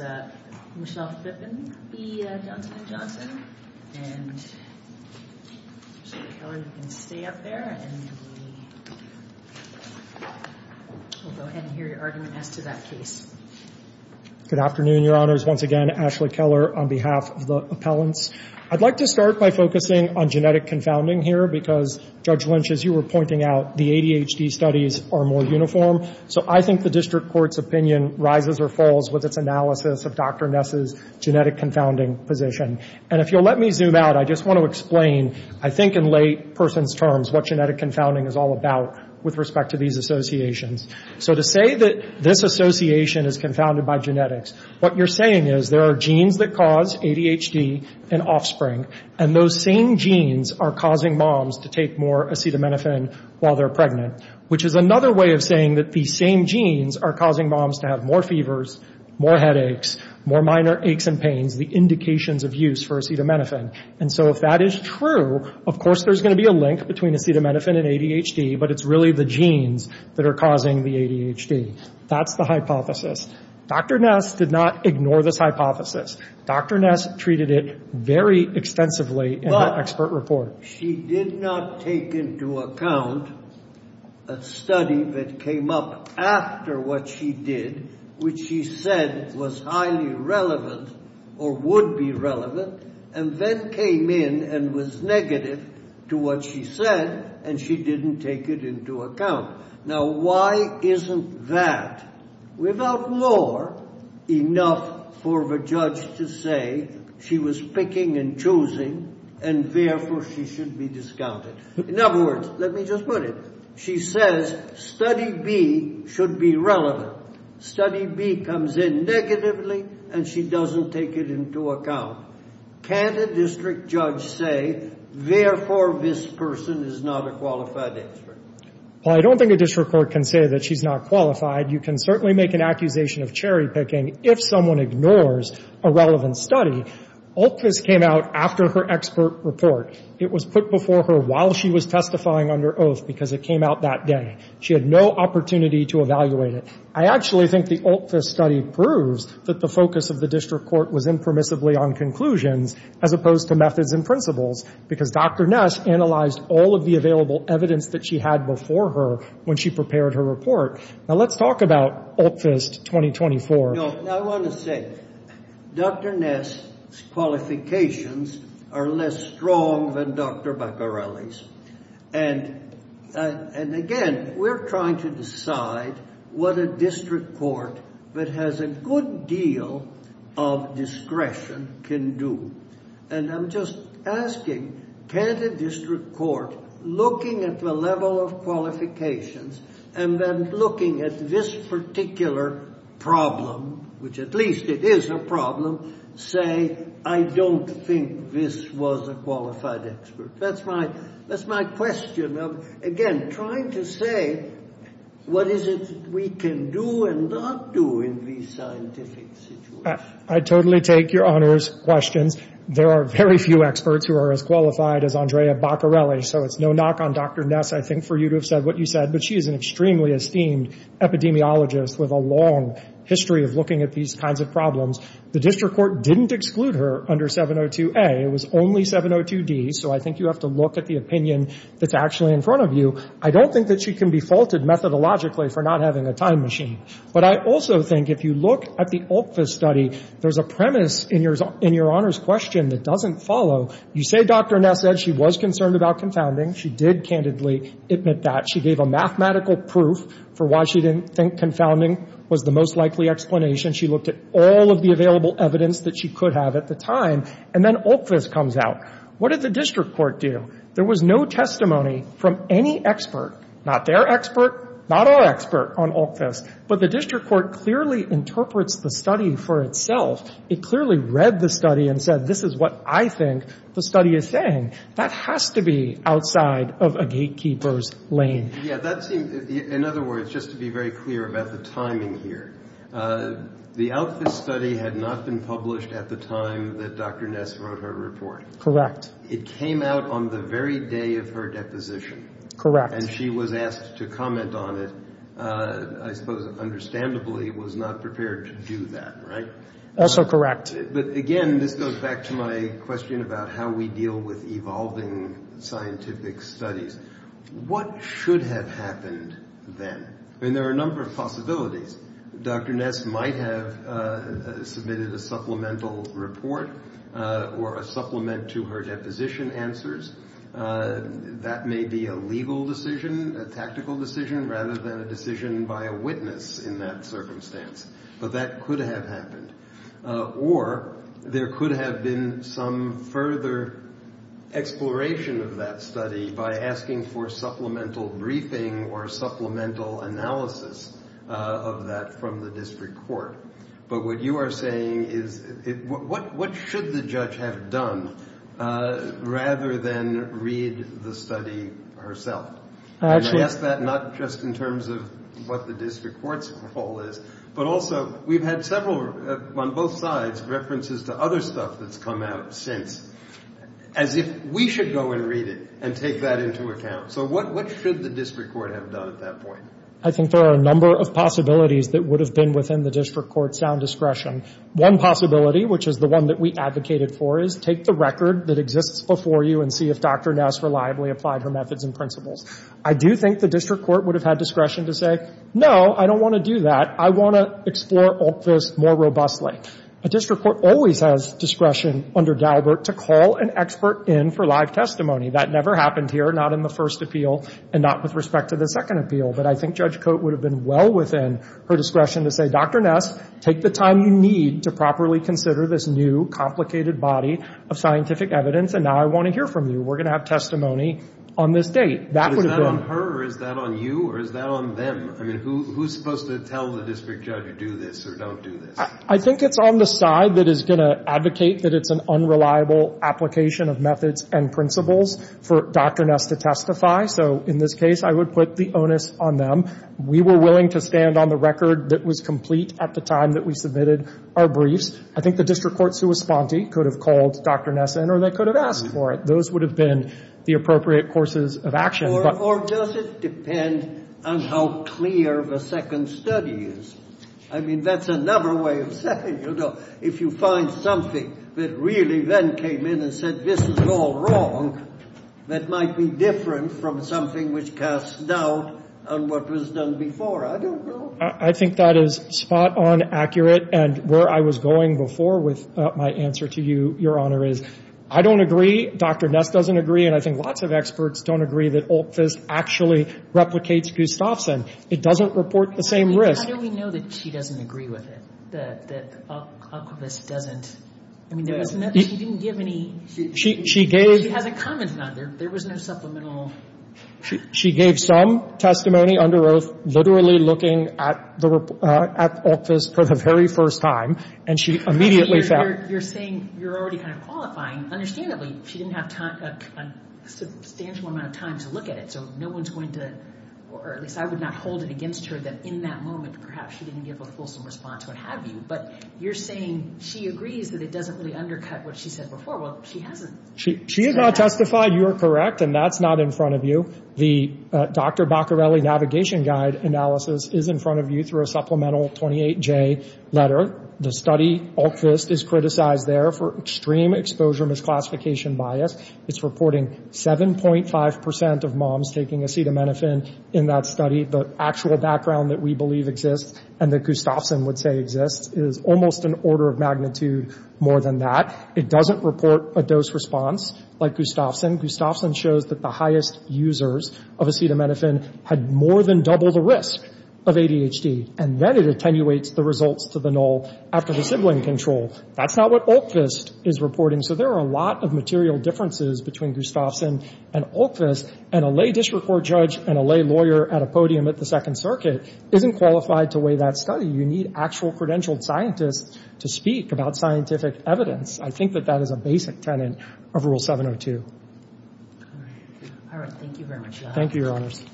Judge Lynch, as you were pointing out, the ADHD studies are more uniform, so I think the district court's opinion rises or falls with its analysis of Dr. Ness's genetic confounding position. And if you'll let me zoom out, I just want to explain, I think in layperson's terms, what genetic confounding is all about with respect to these associations. So to say that this association is confounded by genetics, what you're saying is there are genes that cause ADHD in offspring, and those same genes are causing moms to take more acetaminophen while they're pregnant. Which is another way of saying that these same genes are causing moms to have more fevers, more headaches, more minor aches and pains, the indications of use for acetaminophen. And so if that is true, of course there's going to be a link between acetaminophen and ADHD, but it's really the genes that are causing the ADHD. That's the hypothesis. Dr. Ness did not ignore this hypothesis. Dr. Ness treated it very extensively in the expert report. She did not take into account a study that came up after what she did, which she said was highly relevant or would be relevant, and then came in and was negative to what she said, and she didn't take it into account. Now why isn't that? Without law, enough for the judge to say she was picking and choosing, and therefore she should be discounted. In other words, let me just put it. She says study B should be relevant. Study B comes in negatively, and she doesn't take it into account. Can a district judge say, therefore this person is not a qualified expert? Well, I don't think a district court can say that she's not qualified. You can certainly make an accusation of cherry picking if someone ignores a relevant study. Altfist came out after her expert report. It was put before her while she was testifying under oath because it came out that day. She had no opportunity to evaluate it. I actually think the Altfist study proves that the focus of the district court was impermissibly on conclusions as opposed to methods and principles, because Dr. Ness analyzed all of the available evidence that she had before her when she prepared her report. Now let's talk about Altfist 2024. I want to say, Dr. Ness's qualifications are less strong than Dr. Bacarelli's, and again, we're trying to decide what a district court that has a good deal of discretion can do. I'm just asking, can't a district court, looking at the level of qualifications and then looking at this particular problem, which at least it is a problem, say, I don't think this was a qualified expert? That's my question of, again, trying to say, what is it we can do and not do in these scientific situations? I totally take your Honor's questions. There are very few experts who are as qualified as Andrea Bacarelli, so it's no knock on Dr. Ness, I think, for you to have said what you said, but she is an extremely esteemed epidemiologist with a long history of looking at these kinds of problems. The district court didn't exclude her under 702A. It was only 702D, so I think you have to look at the opinion that's actually in front of you. I don't think that she can be faulted methodologically for not having a time machine. But I also think if you look at the Altfist study, there's a premise in your Honor's question that doesn't follow. You say Dr. Ness said she was concerned about confounding. She did candidly admit that. She gave a mathematical proof for why she didn't think confounding was the most likely explanation. She looked at all of the available evidence that she could have at the time. And then Altfist comes out. What did the district court do? There was no testimony from any expert, not their expert, not our expert, on Altfist. But the district court clearly interprets the study for itself. It clearly read the study and said, this is what I think the study is saying. That has to be outside of a gatekeeper's lane. Yeah, that seems, in other words, just to be very clear about the timing here, the Altfist study had not been published at the time that Dr. Ness wrote her report. Correct. It came out on the very day of her deposition. Correct. And she was asked to comment on it. I suppose understandably was not prepared to do that, right? Also correct. But again, this goes back to my question about how we deal with evolving scientific studies. What should have happened then? I mean, there are a number of possibilities. Dr. Ness might have submitted a supplemental report or a supplement to her deposition answers. That may be a legal decision, a tactical decision, rather than a decision by a witness in that circumstance. But that could have happened. Or there could have been some further exploration of that study by asking for supplemental briefing or supplemental analysis of that from the district court. But what you are saying is, what should the judge have done rather than read the study herself? And I guess that not just in terms of what the district court's role is, but also we've had several, on both sides, references to other stuff that's come out since, as if we should go and read it and take that into account. So what should the district court have done at that point? I think there are a number of possibilities that would have been within the district court's sound discretion. One possibility, which is the one that we advocated for, is take the record that exists before you and see if Dr. Ness reliably applied her methods and principles. I do think the district court would have had discretion to say, no, I don't want to do that. I want to explore all this more robustly. A district court always has discretion under Daubert to call an expert in for live testimony. That never happened here, not in the first appeal and not with respect to the second appeal. But I think Judge Coate would have been well within her discretion to say, Dr. Ness, take the time you need to properly consider this new, complicated body of scientific evidence and now I want to hear from you. We're going to have testimony on this date. That would have been. Is that on her or is that on you or is that on them? I mean, who's supposed to tell the district judge to do this or don't do this? I think it's on the side that is going to advocate that it's an unreliable application of methods and principles for Dr. Ness to testify. So in this case, I would put the onus on them. We were willing to stand on the record that was complete at the time that we submitted our briefs. I think the district court's correspondent could have called Dr. Ness in or they could have asked for it. Those would have been the appropriate courses of action. Or does it depend on how clear the second study is? I mean, that's another way of saying, you know, if you find something that really then came in and said, this is all wrong, that might be different from something which casts doubt on what was done before. I don't know. I think that is spot on accurate and where I was going before with my answer to you, Your Honor, is I don't agree, Dr. Ness doesn't agree, and I think lots of experts don't agree, that Olkvist actually replicates Gustafson. It doesn't report the same risk. I mean, how do we know that she doesn't agree with it, that Olkvist doesn't? I mean, she didn't give any... She gave... She has a comment on it. There was no supplemental... She gave some testimony under oath, literally looking at Olkvist for the very first time, and she immediately found... You're saying you're already kind of qualifying. Understandably, she didn't have a substantial amount of time to look at it, so no one's going to... Or at least I would not hold it against her that in that moment, perhaps she didn't give a fulsome response or what have you, but you're saying she agrees that it doesn't really undercut what she said before. Well, she hasn't. She has not testified you're correct, and that's not in front of you. The Dr. Baccarelli Navigation Guide analysis is in front of you through a supplemental 28J letter. The study, Olkvist, is criticized there for extreme exposure misclassification bias. It's reporting 7.5% of moms taking acetaminophen in that study. The actual background that we believe exists and that Gustafson would say exists is almost an order of magnitude more than that. It doesn't report a dose response like Gustafson. Gustafson shows that the highest users of acetaminophen had more than double the risk of ADHD, and then it attenuates the results to the null after the sibling control. That's not what Olkvist is reporting. So there are a lot of material differences between Gustafson and Olkvist, and a lay district court judge and a lay lawyer at a podium at the Second Circuit isn't qualified to weigh that study. You need actual credentialed scientists to speak about scientific evidence. I think that that is a basic tenet of Rule 702. All right. Thank you very much, John. Thank you, Your Honors.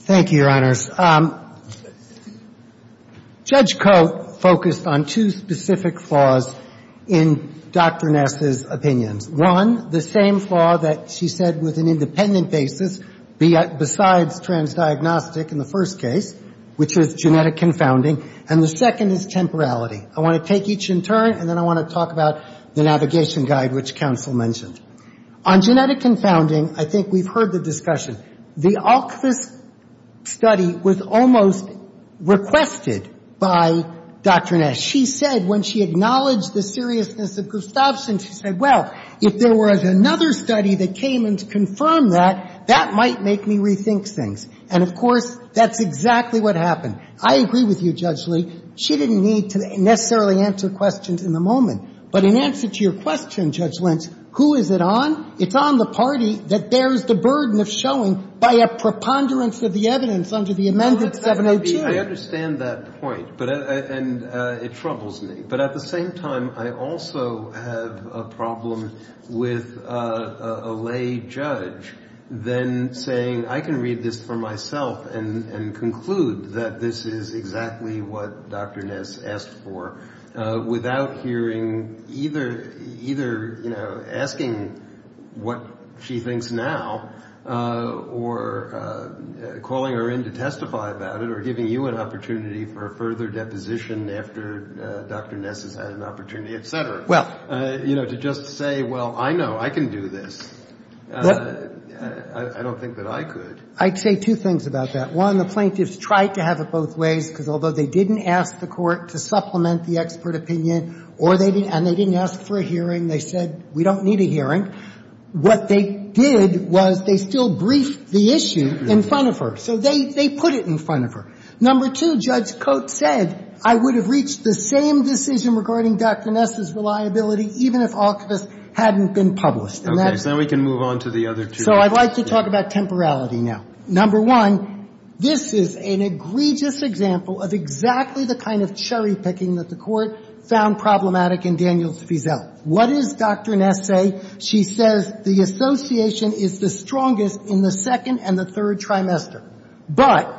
Thank you, Your Honors. Judge Coate focused on two specific flaws in Dr. Ness's opinions. One, the same flaw that she said was an independent basis besides transdiagnostic in the first case, which is genetic confounding, and the second is temporality. I want to take each in turn, and then I want to talk about the navigation guide which counsel mentioned. On genetic confounding, I think we've heard the discussion. The Olkvist study was almost requested by Dr. Ness. She said when she acknowledged the seriousness of Gustafson, she said, well, if there was another study that came and confirmed that, that might make me rethink things. And, of course, that's exactly what happened. I agree with you, Judge Lee. She didn't need to necessarily answer questions in the moment. But in answer to your question, Judge Lentz, who is it on? It's on the party that bears the burden of showing by a preponderance of the evidence under the amendment 702. Well, that's not to be — I understand that point, but — and it troubles me. But at the same time, I also have a problem with a lay judge then saying, I can read this for myself and conclude that this is exactly what Dr. Ness asked for, without hearing either — either, you know, asking what she thinks now or calling her in to testify about it or giving you an opportunity for a further deposition after Dr. Ness has had an opportunity, et cetera. Well — You know, to just say, well, I know. I can do this. I don't think that I could. I'd say two things about that. One, the plaintiffs tried to have it both ways, because although they didn't ask the supplement the expert opinion, or they didn't — and they didn't ask for a hearing, they said, we don't need a hearing, what they did was they still briefed the issue in front of her. So they put it in front of her. Number two, Judge Coates said, I would have reached the same decision regarding Dr. Ness's reliability even if all of this hadn't been published. And that's — So then we can move on to the other two. So I'd like to talk about temporality now. Number one, this is an egregious example of exactly the kind of cherry-picking that the Court found problematic in Daniels v. Zell. What does Dr. Ness say? She says the association is the strongest in the second and the third trimester. But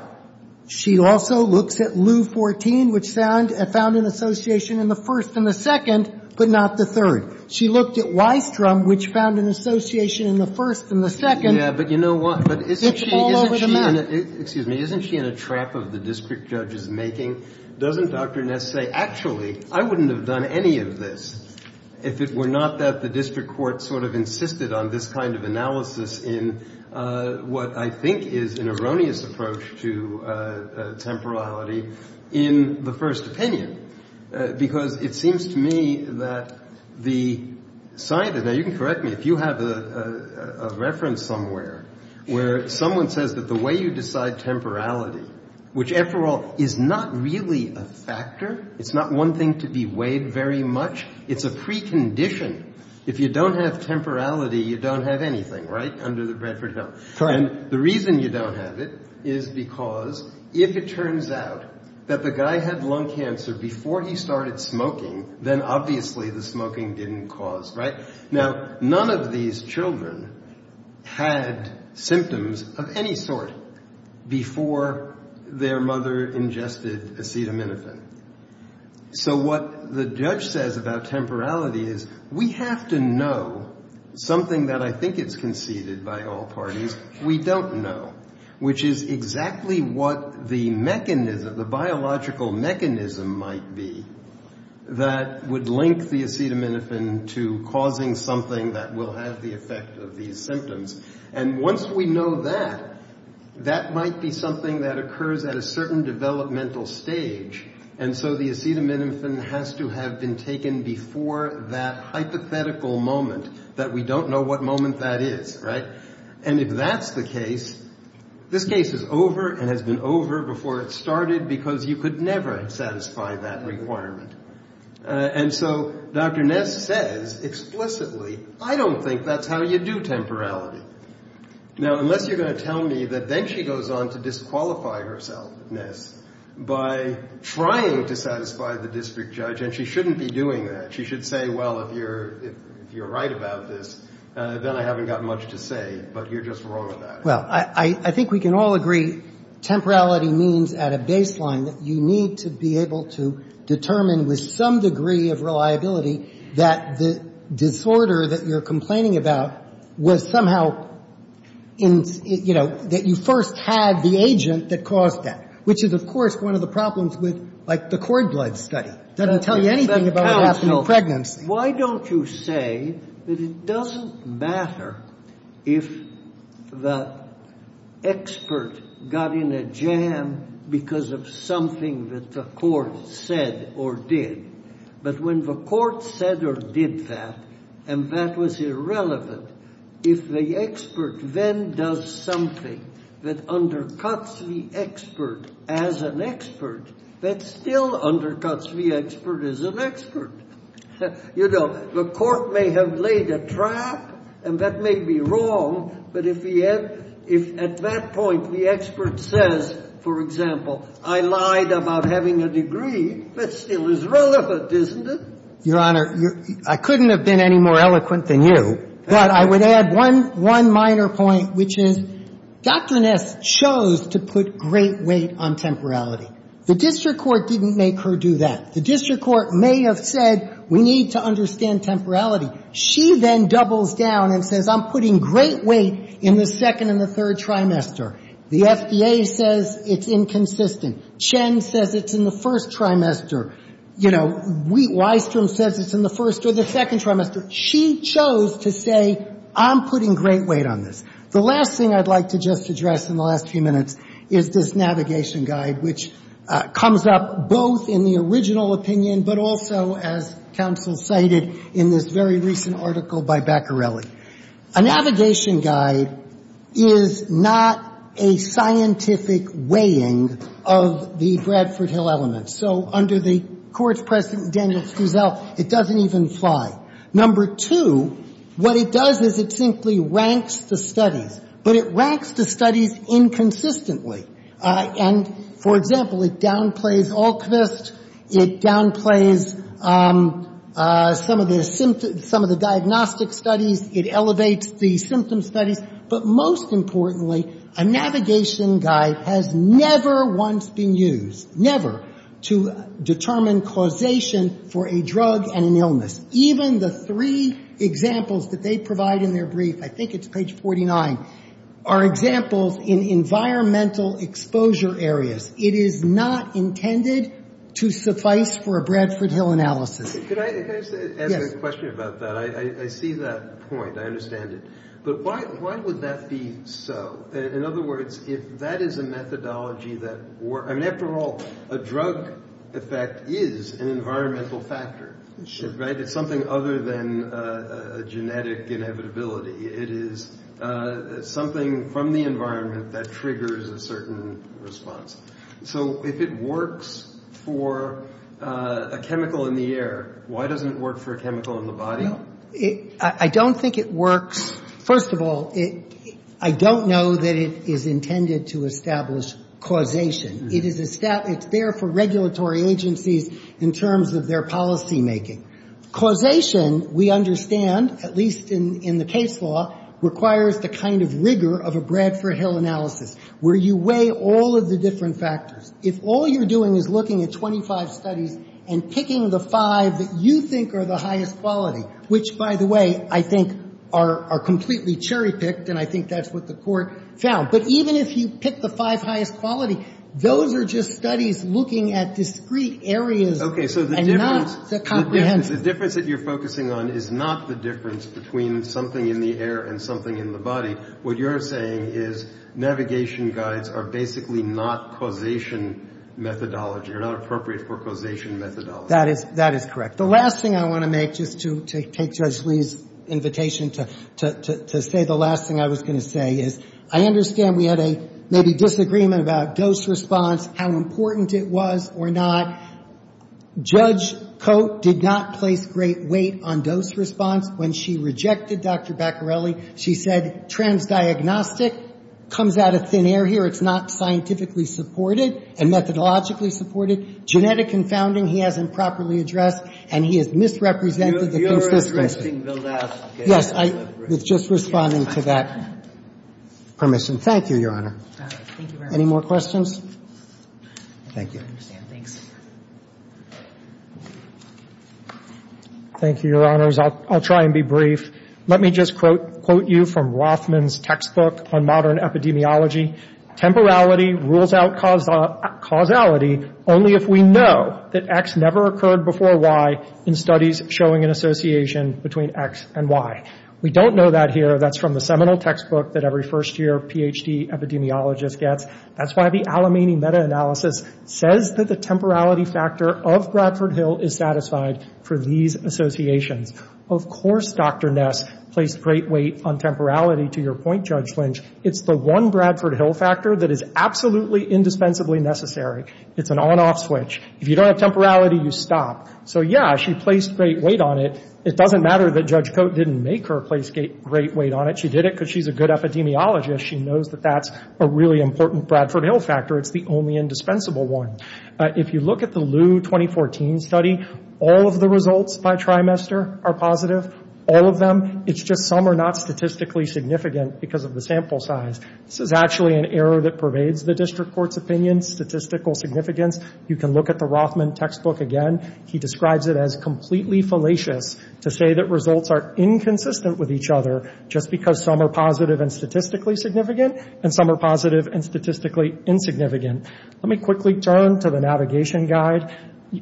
she also looks at Lieu 14, which found an association in the first and the second, but not the third. She looked at Weisstrom, which found an association in the first and the second. Yeah, but you know what? But isn't she — It's all over the map. Excuse me. Isn't she in a trap of the district judge's making? Doesn't Dr. Ness say, actually, I wouldn't have done any of this if it were not that the district court sort of insisted on this kind of analysis in what I think is an erroneous approach to temporality in the first opinion? Because it seems to me that the — now, you can correct me. If you have a reference somewhere where someone says that the way you decide temporality, which, after all, is not really a factor, it's not one thing to be weighed very much, it's a precondition. If you don't have temporality, you don't have anything, right, under the Bredford Hill. And the reason you don't have it is because if it turns out that the guy had lung cancer before he started smoking, then obviously the smoking didn't cause — right? Now, none of these children had symptoms of any sort before their mother ingested acetaminophen. So what the judge says about temporality is we have to know something that I think it's conceded by all parties we don't know, which is exactly what the mechanism, the biological mechanism might be that would link the acetaminophen to causing something that will have the effect of these symptoms. And once we know that, that might be something that occurs at a certain developmental stage. And so the acetaminophen has to have been taken before that hypothetical moment that we don't know what moment that is, right? And if that's the case, this case is over and has been over before it started because you could never satisfy that requirement. And so Dr. Ness says explicitly, I don't think that's how you do temporality. Now, unless you're going to tell me that then she goes on to disqualify herself, Ness, by trying to satisfy the district judge, and she shouldn't be doing that. She should say, well, if you're right about this, then I haven't got much to say, but you're just wrong about it. Well, I think we can all agree temporality means at a baseline that you need to be able to determine with some degree of reliability that the disorder that you're complaining about was somehow in, you know, that you first had the agent that caused that, which is, of course, one of the problems with, like, the cord blood study. It doesn't tell you anything about what happened in pregnancy. Why don't you say that it doesn't matter if the expert got in a jam because of something that the court said or did, but when the court said or did that, and that was irrelevant, if the expert then does something that undercuts the expert as an expert, that still undercuts the expert as an expert, you know, the court may have laid a trap, and that may be wrong, but if at that point the expert says, for example, I lied about having a degree, that still is relevant, isn't it? Your Honor, I couldn't have been any more eloquent than you, but I would add one minor point, which is Dr. Ness chose to put great weight on temporality. The district court didn't make her do that. The district court may have said, we need to understand temporality. She then doubles down and says, I'm putting great weight in the second and the third trimester. The FDA says it's inconsistent. Chen says it's in the first trimester. You know, Weisstrom says it's in the first or the second trimester. She chose to say, I'm putting great weight on this. The last thing I'd like to just address in the last few minutes is this navigation guide, which comes up both in the original opinion, but also, as counsel cited in this very recent article by Baccarelli. A navigation guide is not a scientific weighing of the Bradford Hill elements. So under the court's president, Daniel Struzell, it doesn't even fly. Number two, what it does is it simply ranks the studies, but it ranks the studies inconsistently. And for example, it downplays Alquist. It downplays some of the diagnostic studies. It elevates the symptom studies. But most importantly, a navigation guide has never once been used, never, to determine causation for a drug and an illness. Even the three examples that they provide in their brief, I think it's page 49, are examples in environmental exposure areas. It is not intended to suffice for a Bradford Hill analysis. Can I ask a question about that? I see that point. I understand it. But why would that be so? In other words, if that is a methodology that works, I mean, after all, a drug effect is an environmental factor, right? It's something other than a genetic inevitability. It is something from the environment that triggers a certain response. So if it works for a chemical in the air, why doesn't it work for a chemical in the body? I don't think it works. First of all, I don't know that it is intended to establish causation. It is there for regulatory agencies in terms of their policymaking. Causation, we understand, at least in the case law, requires the kind of rigor of a Bradford Hill analysis where you weigh all of the different factors. If all you're doing is looking at 25 studies and picking the five that you think are the highest quality, which, by the way, I think are completely cherry-picked, and I think that's what the Court found. But even if you pick the five highest quality, those are just studies looking at discrete areas and not the comprehensive. The difference that you're focusing on is not the difference between something in the air and something in the body. What you're saying is navigation guides are basically not causation methodology, are not appropriate for causation methodology. That is correct. The last thing I want to make, just to take Judge Lee's invitation to say the last thing I was going to say, is I understand we had a maybe disagreement about dose response, how important it was or not. Judge Cote did not place great weight on dose response when she rejected Dr. Baccarelli. She said transdiagnostic comes out of thin air here. It's not scientifically supported and methodologically supported. Genetic confounding he hasn't properly addressed, and he has misrepresented the consistency. You're addressing the last case. Yes, I was just responding to that permission. Thank you, Your Honor. All right. Thank you very much. Any more questions? Thank you. I understand. Thanks. Thank you, Your Honors. I'll try and be brief. Let me just quote you from Rothman's textbook on modern epidemiology. Temporality rules out causality only if we know that X never occurred before Y in studies showing an association between X and Y. We don't know that here. That's from the seminal textbook that every first year PhD epidemiologist gets. That's why the Alimany meta-analysis says that the temporality factor of Bradford Hill is satisfied for these associations. Of course Dr. Ness placed great weight on temporality, to your point, Judge Lynch. It's the one Bradford Hill factor that is absolutely indispensably necessary. It's an on-off switch. If you don't have temporality, you stop. So yeah, she placed great weight on it. It doesn't matter that Judge Cote didn't make her place great weight on it. She did it because she's a good epidemiologist. She knows that that's a really important Bradford Hill factor. It's the only indispensable one. If you look at the Lew 2014 study, all of the results by trimester are positive. All of them. It's just some are not statistically significant because of the sample size. This is actually an error that pervades the district court's opinion, statistical significance. You can look at the Rothman textbook again. He describes it as completely fallacious to say that results are inconsistent with each other just because some are positive and statistically significant and some are positive and statistically insignificant. Let me quickly turn to the navigation guide.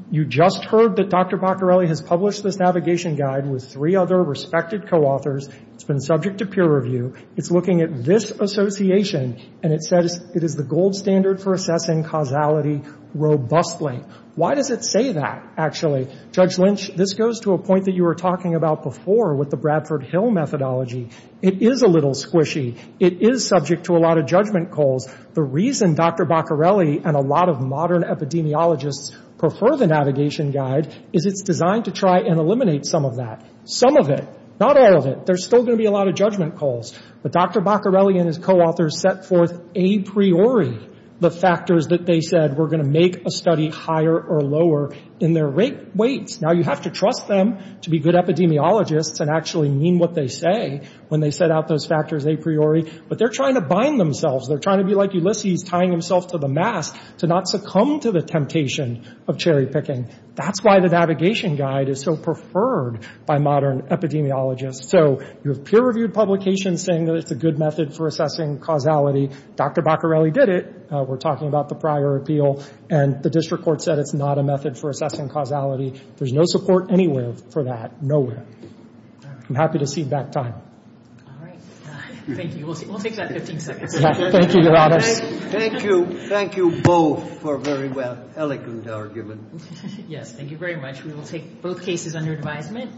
You just heard that Dr. Paccarelli has published this navigation guide with three other respected co-authors. It's been subject to peer review. It's looking at this association and it says it is the gold standard for assessing causality robustly. Why does it say that, actually? Judge Lynch, this goes to a point that you were talking about before with the Bradford Hill methodology. It is a little squishy. It is subject to a lot of judgment calls. The reason Dr. Paccarelli and a lot of modern epidemiologists prefer the navigation guide is it's designed to try and eliminate some of that. Some of it. Not all of it. There's still going to be a lot of judgment calls. But Dr. Paccarelli and his co-authors set forth a priori the factors that they said were going to make a study higher or lower in their rates. Now, you have to trust them to be good epidemiologists and actually mean what they say when they set out those factors a priori. But they're trying to bind themselves. They're trying to be like Ulysses tying himself to the mast to not succumb to the temptation of cherry picking. That's why the navigation guide is so preferred by modern epidemiologists. So you have peer reviewed publications saying that it's a good method for assessing causality. Dr. Paccarelli did it. We're talking about the prior appeal. And the district court said it's not a method for assessing causality. There's no support anywhere for that. Nowhere. I'm happy to cede that time. All right. Thank you. We'll take that 15 seconds. Thank you, Your Honors. Thank you. Thank you both for a very eloquent argument. Yes. Thank you very much. We will take both cases under advisement.